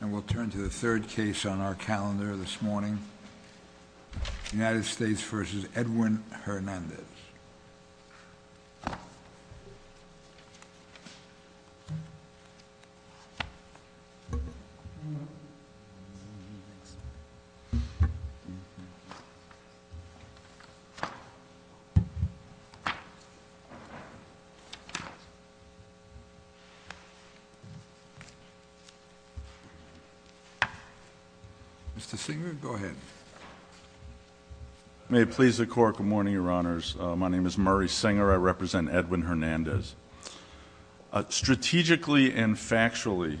And we'll turn to the third case on our calendar this morning, United States v. Edwin Hernandez. Mr. Singer, go ahead. May it please the Court, good morning, Your Honors. My name is Murray Singer. I represent Edwin Hernandez. Strategically and factually,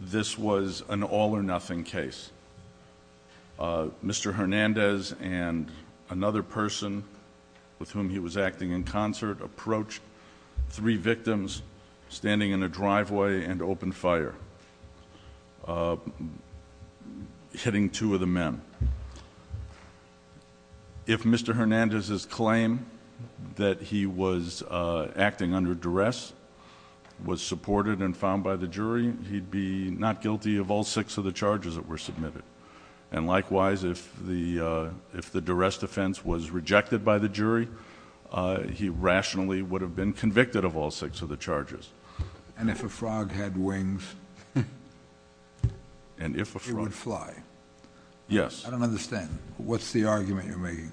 this was an all-or-nothing case. Mr. Hernandez and another person with whom he was acting in concert approached three victims standing in a driveway and opened fire, hitting two of the men. If Mr. Hernandez's claim that he was acting under duress was supported and found by the jury, he'd be not guilty of all six of the charges that were submitted. And likewise, if the duress defense was rejected by the jury, he rationally would have been convicted of all six of the charges. And if a frog had wings, it would fly? Yes. I don't understand. What's the argument you're making?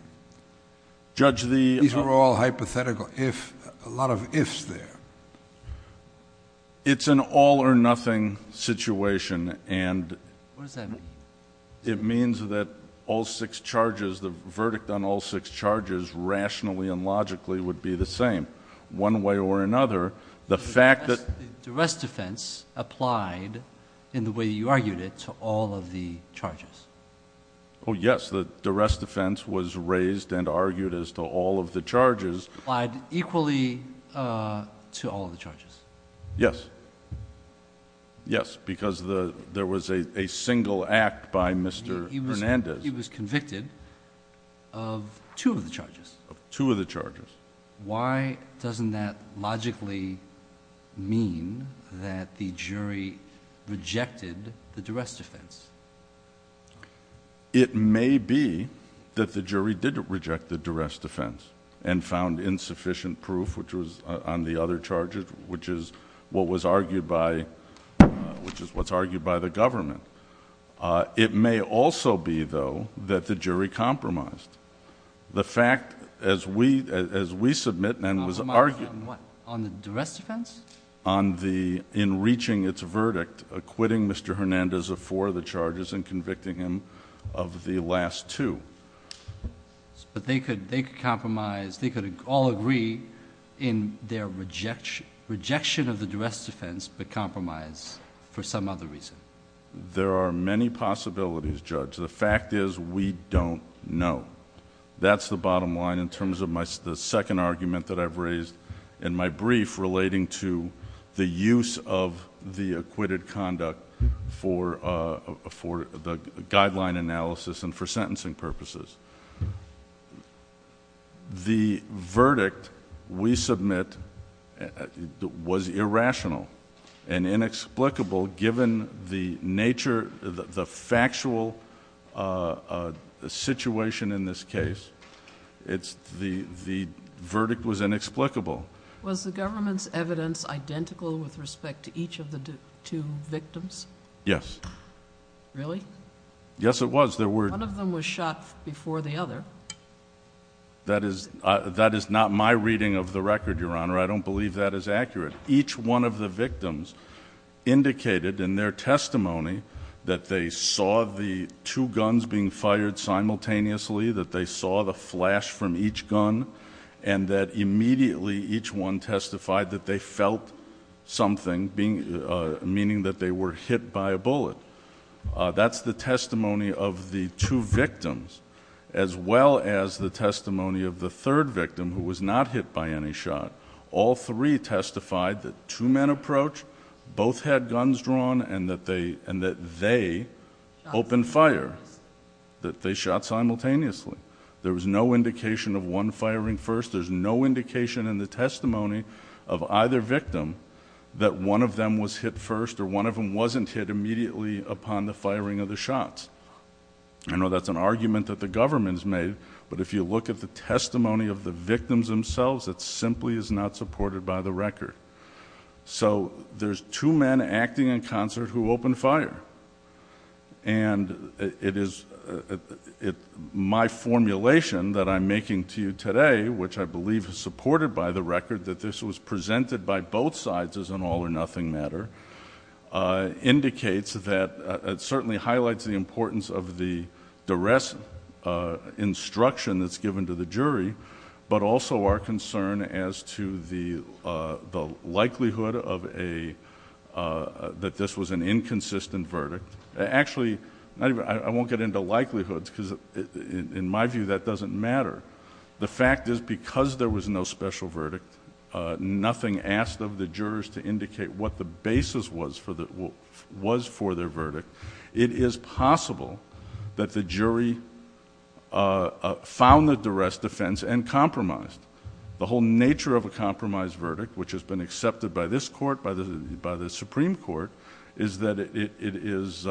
Judge, the— These are all hypothetical. If—a lot of ifs there. It's an all-or-nothing situation, and— What does that mean? It means that all six charges, the verdict on all six charges, rationally and logically would be the same. One way or another, the fact that— The duress defense applied in the way you argued it to all of the charges. Oh, yes. The duress defense was raised and argued as to all of the charges. Applied equally to all of the charges. Yes. Yes, because there was a single act by Mr. Hernandez. He was convicted of two of the charges. Of two of the charges. Why doesn't that logically mean that the jury rejected the duress defense? It may be that the jury did reject the duress defense and found insufficient proof, which was on the other charges, which is what was argued by— which is what's argued by the government. It may also be, though, that the jury compromised. The fact, as we—as we submit and was argued— On what? On the duress defense? On the—in reaching its verdict, acquitting Mr. Hernandez of four of the charges and convicting him of the last two. But they could compromise—they could all agree in their rejection of the duress defense but compromise for some other reason. There are many possibilities, Judge. The fact is we don't know. That's the bottom line in terms of the second argument that I've raised in my brief relating to the use of the acquitted conduct for the guideline analysis and for sentencing purposes. The verdict we submit was irrational and inexplicable given the nature—the factual situation in this case. It's—the verdict was inexplicable. Was the government's evidence identical with respect to each of the two victims? Yes. Really? Yes, it was. There were— One of them was shot before the other. That is—that is not my reading of the record, Your Honor. I don't believe that is accurate. Each one of the victims indicated in their testimony that they saw the two guns being fired simultaneously, that they saw the flash from each gun and that immediately each one testified that they felt something, meaning that they were hit by a bullet. That's the testimony of the two victims as well as the testimony of the third victim who was not hit by any shot. All three testified that two men approached, both had guns drawn and that they opened fire, that they shot simultaneously. There was no indication of one firing first. There's no indication in the testimony of either victim that one of them was hit first or one of them wasn't hit immediately upon the firing of the shots. I know that's an argument that the government has made, but if you look at the testimony of the victims themselves, it simply is not supported by the record. So there's two men acting in concert who opened fire, and my formulation that I'm making to you today, which I believe is supported by the record that this was presented by both sides as an all-or-nothing matter, indicates that it certainly highlights the importance of the duress instruction that's given to the jury, but also our concern as to the likelihood that this was an inconsistent verdict. Actually, I won't get into likelihoods, because in my view that doesn't matter. The fact is because there was no special verdict, nothing asked of the jurors to indicate what the basis was for their verdict, it is possible that the jury found the duress defense and compromised. The whole nature of a compromised verdict, which has been accepted by this court, by the Supreme Court, is that it is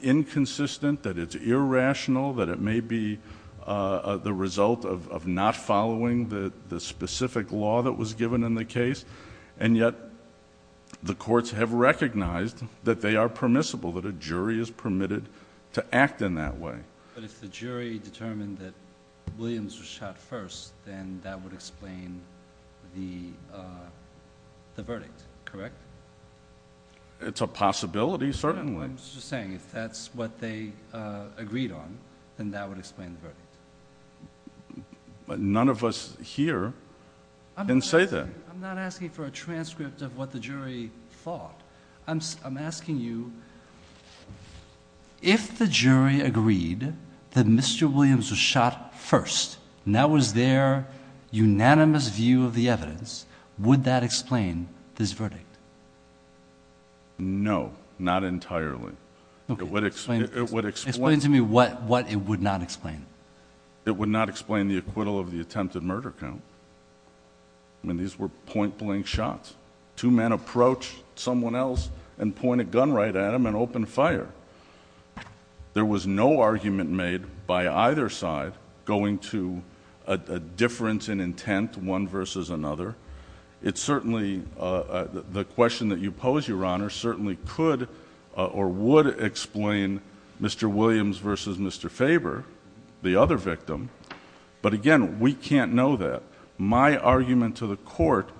inconsistent, that it's irrational, that it may be the result of not following the specific law that was given in the case, and yet the courts have recognized that they are permissible, that a jury is permitted to act in that way. But if the jury determined that Williams was shot first, then that would explain the verdict, correct? It's a possibility, certainly. I'm just saying if that's what they agreed on, then that would explain the verdict. But none of us here can say that. I'm not asking for a transcript of what the jury thought. I'm asking you, if the jury agreed that Mr. Williams was shot first and that was their unanimous view of the evidence, would that explain this verdict? No, not entirely. Explain to me what it would not explain. It would not explain the acquittal of the attempted murder count. I mean, these were point-blank shots. Two men approached someone else and pointed a gun right at him and opened fire. There was no argument made by either side going to a difference in intent, one versus another. It certainly, the question that you pose, Your Honor, certainly could or would explain Mr. Williams versus Mr. Faber, the other victim. But again, we can't know that. My argument to the court,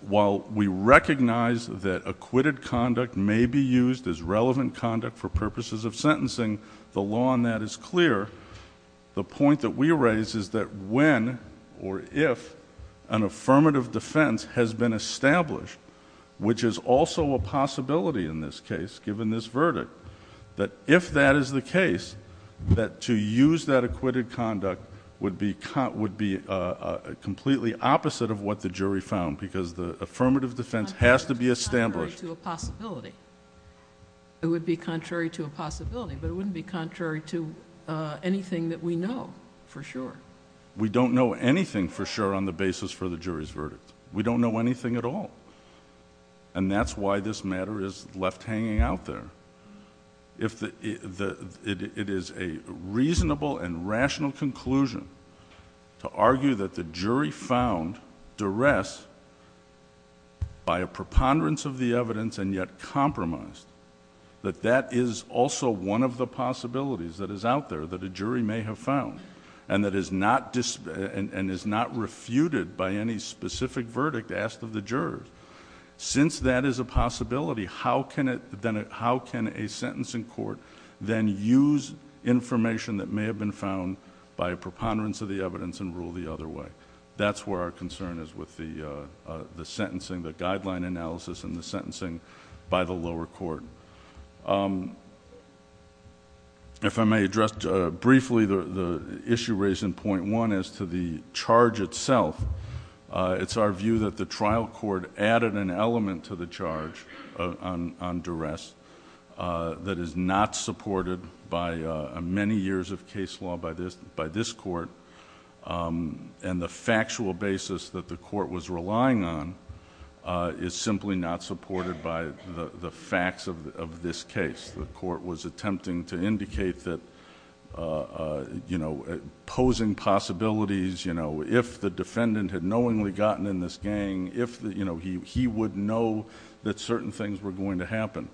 while we recognize that acquitted conduct may be used as relevant conduct for purposes of sentencing, the law on that is clear. The point that we raise is that when or if an affirmative defense has been established, which is also a possibility in this case, given this verdict, that if that is the case, that to use that acquitted conduct would be completely opposite of what the jury found because the affirmative defense has to be established. It would be contrary to a possibility, but it wouldn't be contrary to anything that we know for sure. We don't know anything for sure on the basis for the jury's verdict. We don't know anything at all. That's why this matter is left hanging out there. It is a reasonable and rational conclusion to argue that the jury found duress by a preponderance of the evidence and yet compromised, that that is also one of the possibilities that is out there that a jury may have found and that is not refuted by any specific verdict asked of the jurors. Since that is a possibility, how can a sentencing court then use information that may have been found by a preponderance of the evidence and rule the other way? That's where our concern is with the sentencing, the guideline analysis and the sentencing by the lower court. If I may address briefly the issue raised in point one as to the charge itself, it's our view that the trial court added an element to the charge on duress that is not supported by many years of case law by this court, and the factual basis that the court was relying on is simply not supported by the facts of this case. The court was attempting to indicate that posing possibilities, if the defendant had knowingly gotten in this gang, he would know that certain things were going to happen,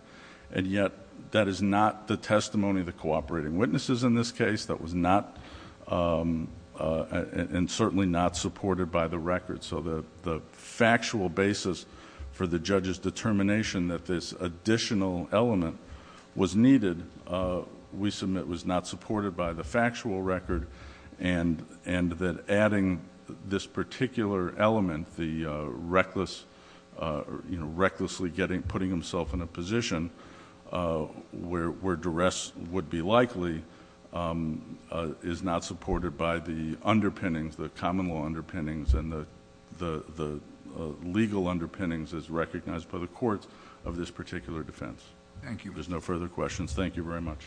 and yet that is not the testimony of the cooperating witnesses in this case. That was not... and certainly not supported by the record. The factual basis for the judge's determination that this additional element was needed, we submit was not supported by the factual record, and that adding this particular element, the recklessly putting himself in a position where duress would be likely, is not supported by the underpinnings, the common law underpinnings, and the legal underpinnings as recognized by the courts of this particular defense. Thank you. If there's no further questions, thank you very much.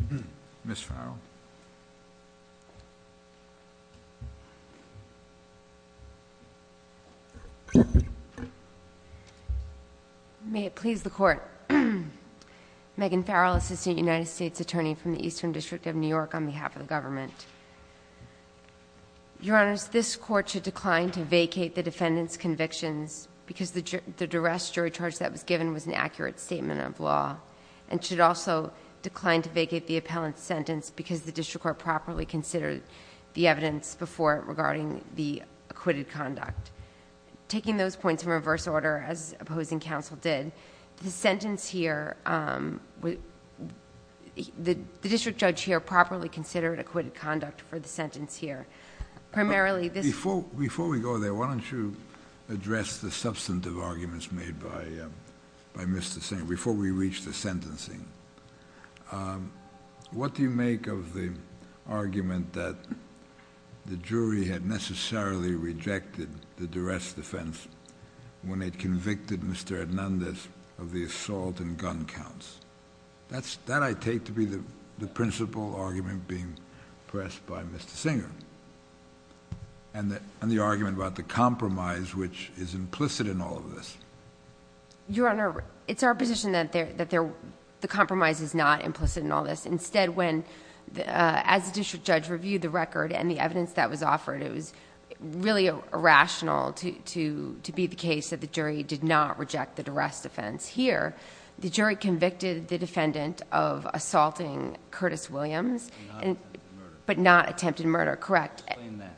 Thank you. Ms. Farrell. May it please the Court. Megan Farrell, Assistant United States Attorney from the Eastern District of New York, on behalf of the government. Your Honors, this Court should decline to vacate the defendant's convictions because the duress jury charge that was given was an accurate statement of law, and should also decline to vacate the appellant's sentence because the district court properly considered the evidence before it regarding the acquitted conduct. Taking those points in reverse order, as opposing counsel did, the sentence here, the district judge here properly considered acquitted conduct for the sentence here. Primarily this... Before we go there, why don't you address the substantive arguments made by Mr. Singh, before we reach the sentencing. What do you make of the argument that the jury had necessarily rejected the duress defense when it convicted Mr. Hernandez of the assault and gun counts? That I take to be the principal argument being pressed by Mr. Singer, and the argument about the compromise which is implicit in all of this. Your Honor, it's our position that the compromise is not implicit in all this. Instead, when, as the district judge reviewed the record and the evidence that was offered, it was really irrational to be the case that the jury did not reject the duress defense. Here, the jury convicted the defendant of assaulting Curtis Williams... But not attempted murder. But not attempted murder, correct. Explain that.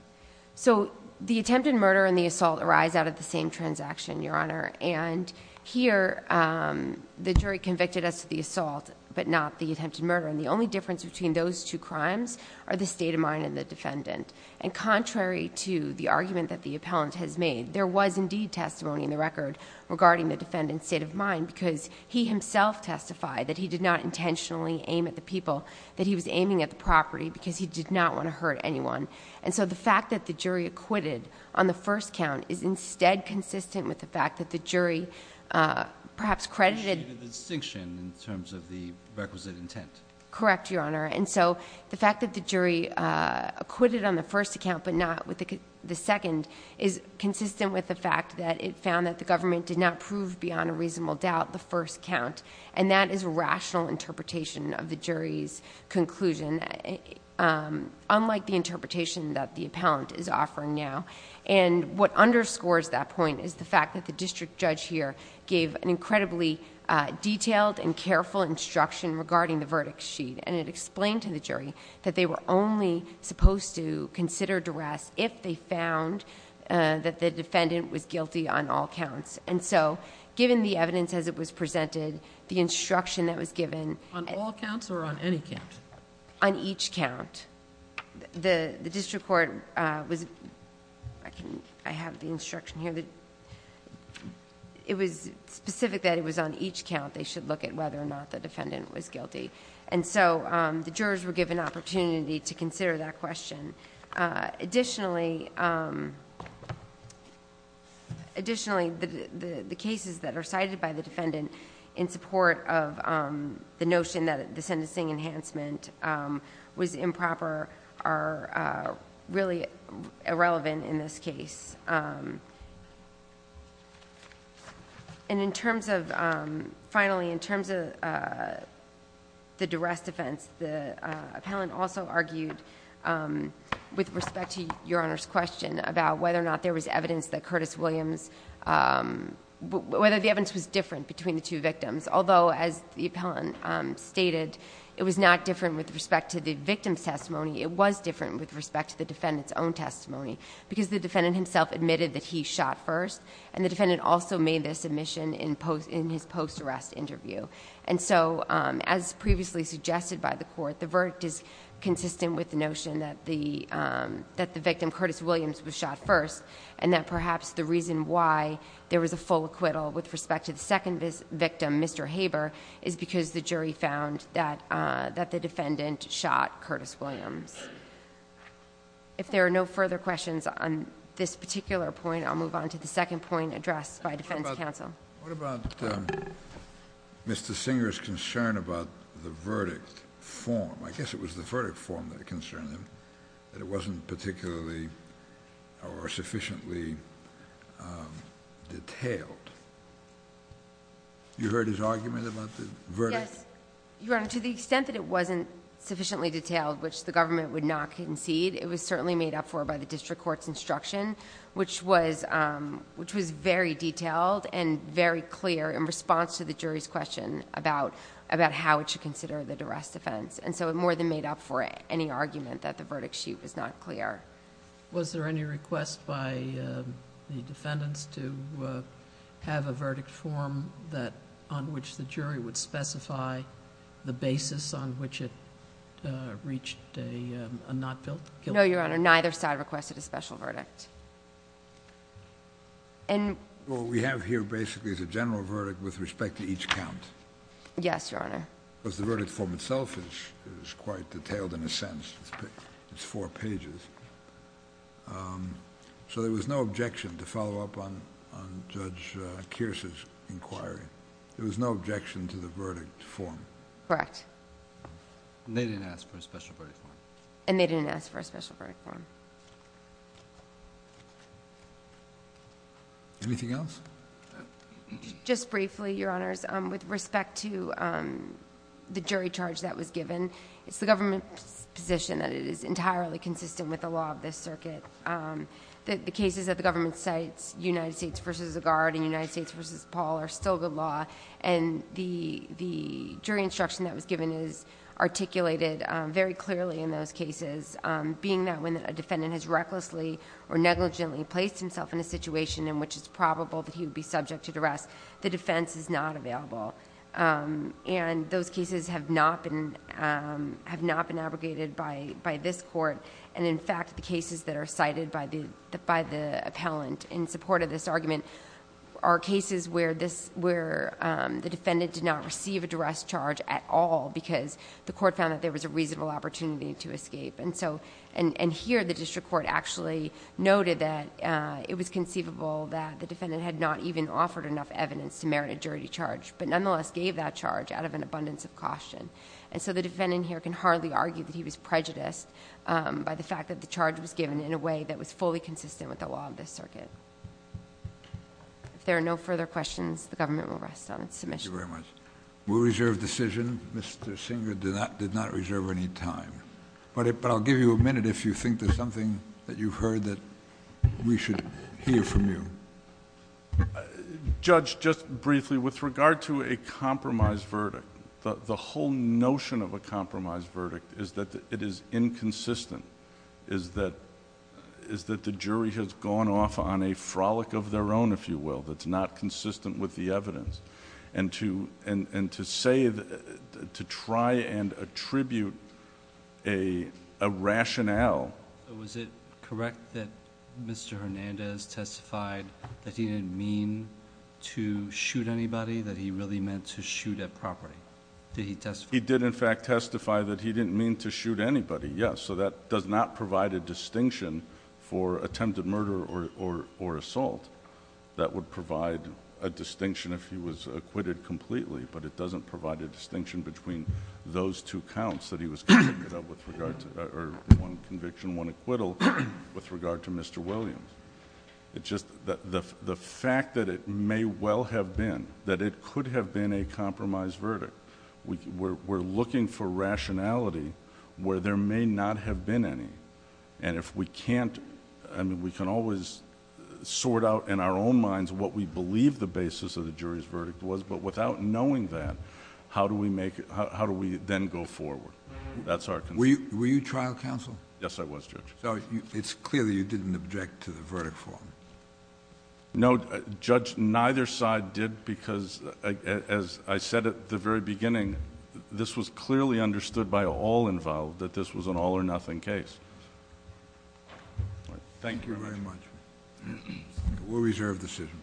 So, the attempted murder and the assault arise out of the same transaction, Your Honor. And here, the jury convicted us of the assault, but not the attempted murder. And the only difference between those two crimes are the state of mind and the defendant. And contrary to the argument that the appellant has made, there was indeed testimony in the record regarding the defendant's state of mind because he himself testified that he did not intentionally aim at the people, that he was aiming at the property because he did not want to hurt anyone. And so, the fact that the jury acquitted on the first count is instead consistent with the fact that the jury perhaps credited... The distinction in terms of the requisite intent. Correct, Your Honor. And so, the fact that the jury acquitted on the first account, but not with the second... is consistent with the fact that it found that the government did not prove beyond a reasonable doubt, the first count. And that is a rational interpretation of the jury's conclusion. Unlike the interpretation that the appellant is offering now. And, what underscores that point is the fact that the district judge here... gave an incredibly detailed and careful instruction regarding the verdict sheet. And, it explained to the jury that they were only supposed to consider duress if they found that the defendant was guilty on all counts. And so, given the evidence as it was presented, the instruction that was given... On all counts or on any count? On each count. The district court was... I have the instruction here. It was specific that it was on each count they should look at whether or not the defendant was guilty. And so, the jurors were given an opportunity to consider that question. Additionally, the cases that are cited by the defendant in support of the notion that the sentencing enhancement was improper... are really irrelevant in this case. And, in terms of... Finally, in terms of the duress defense, the appellant also argued with respect to Your Honor's question... about whether or not there was evidence that Curtis Williams... Whether the evidence was different between the two victims. Although, as the appellant stated, it was not different with respect to the victim's testimony. Because, the defendant himself admitted that he shot first. And, the defendant also made this admission in his post-arrest interview. And so, as previously suggested by the court, the verdict is consistent with the notion that the... that the victim, Curtis Williams, was shot first. And, that perhaps the reason why there was a full acquittal with respect to the second victim, Mr. Haber... is because the jury found that the defendant shot Curtis Williams. If there are no further questions on this particular point, I'll move on to the second point addressed by defense counsel. What about Mr. Singer's concern about the verdict form? I guess it was the verdict form that concerned him. That it wasn't particularly or sufficiently detailed. You heard his argument about the verdict? Yes. Your Honor, to the extent that it wasn't sufficiently detailed, which the government would not concede... it was certainly made up for by the district court's instruction, which was... which was very detailed and very clear in response to the jury's question about... about how it should consider the duress defense. And so, it more than made up for any argument that the verdict sheet was not clear. Was there any request by the defendants to have a verdict form that... on which the jury would specify the basis on which it reached a not guilty verdict? No, Your Honor. Neither side requested a special verdict. And... What we have here, basically, is a general verdict with respect to each count. Yes, Your Honor. Because the verdict form itself is quite detailed in a sense. It's four pages. So, there was no objection to follow up on Judge Kearse's inquiry? There was no objection to the verdict form? Correct. And, they didn't ask for a special verdict form? And, they didn't ask for a special verdict form. Anything else? Just briefly, Your Honors. With respect to the jury charge that was given, it's the government's position that it is entirely consistent with the law of this circuit. The cases that the government cites, United States v. Zagard and United States v. Paul, are still good law. And, the jury instruction that was given is articulated very clearly in those cases. Being that when a defendant has recklessly or negligently placed himself in a situation in which it's probable that he would be subject to duress, the defense is not available. And, those cases have not been abrogated by this court. And, in fact, the cases that are cited by the appellant in support of this argument are cases where the defendant did not receive a duress charge at all because the court found that there was a reasonable opportunity to escape. And, here, the district court actually noted that it was conceivable that the defendant had not even offered enough evidence to merit a jury charge, but nonetheless gave that charge out of an abundance of caution. And so, the defendant here can hardly argue that he was prejudiced by the fact that the charge was given in a way that was fully consistent with the law of this circuit. If there are no further questions, the government will rest on its submission. Thank you very much. We'll reserve decision. Mr. Singer did not reserve any time. But, I'll give you a minute if you think there's something that you've heard that we should hear from you. Judge, just briefly, with regard to a compromise verdict, the whole notion of a compromise verdict is that it is inconsistent, is that the jury has gone off on a frolic of their own, if you will, that's not consistent with the evidence. And, to say, to try and attribute a rationale. Was it correct that Mr. Hernandez testified that he didn't mean to shoot anybody, that he really meant to shoot at property? Did he testify? He did, in fact, testify that he didn't mean to shoot anybody, yes. So, that does not provide a distinction for attempted murder or assault. That would provide a distinction if he was acquitted completely. But, it doesn't provide a distinction between those two counts that he was convicted of, or one conviction, one acquittal, with regard to Mr. Williams. The fact that it may well have been, that it could have been a compromise verdict. We're looking for rationality where there may not have been any. And, if we can't, I mean, we can always sort out in our own minds what we believe the basis of the jury's verdict was, but without knowing that, how do we then go forward? That's our concern. Were you trial counsel? Yes, I was, Judge. So, it's clear that you didn't object to the verdict form. No, Judge, neither side did, because, as I said at the very beginning, this was clearly understood by all involved that this was an all or nothing case. Thank you very much. We'll reserve the decision.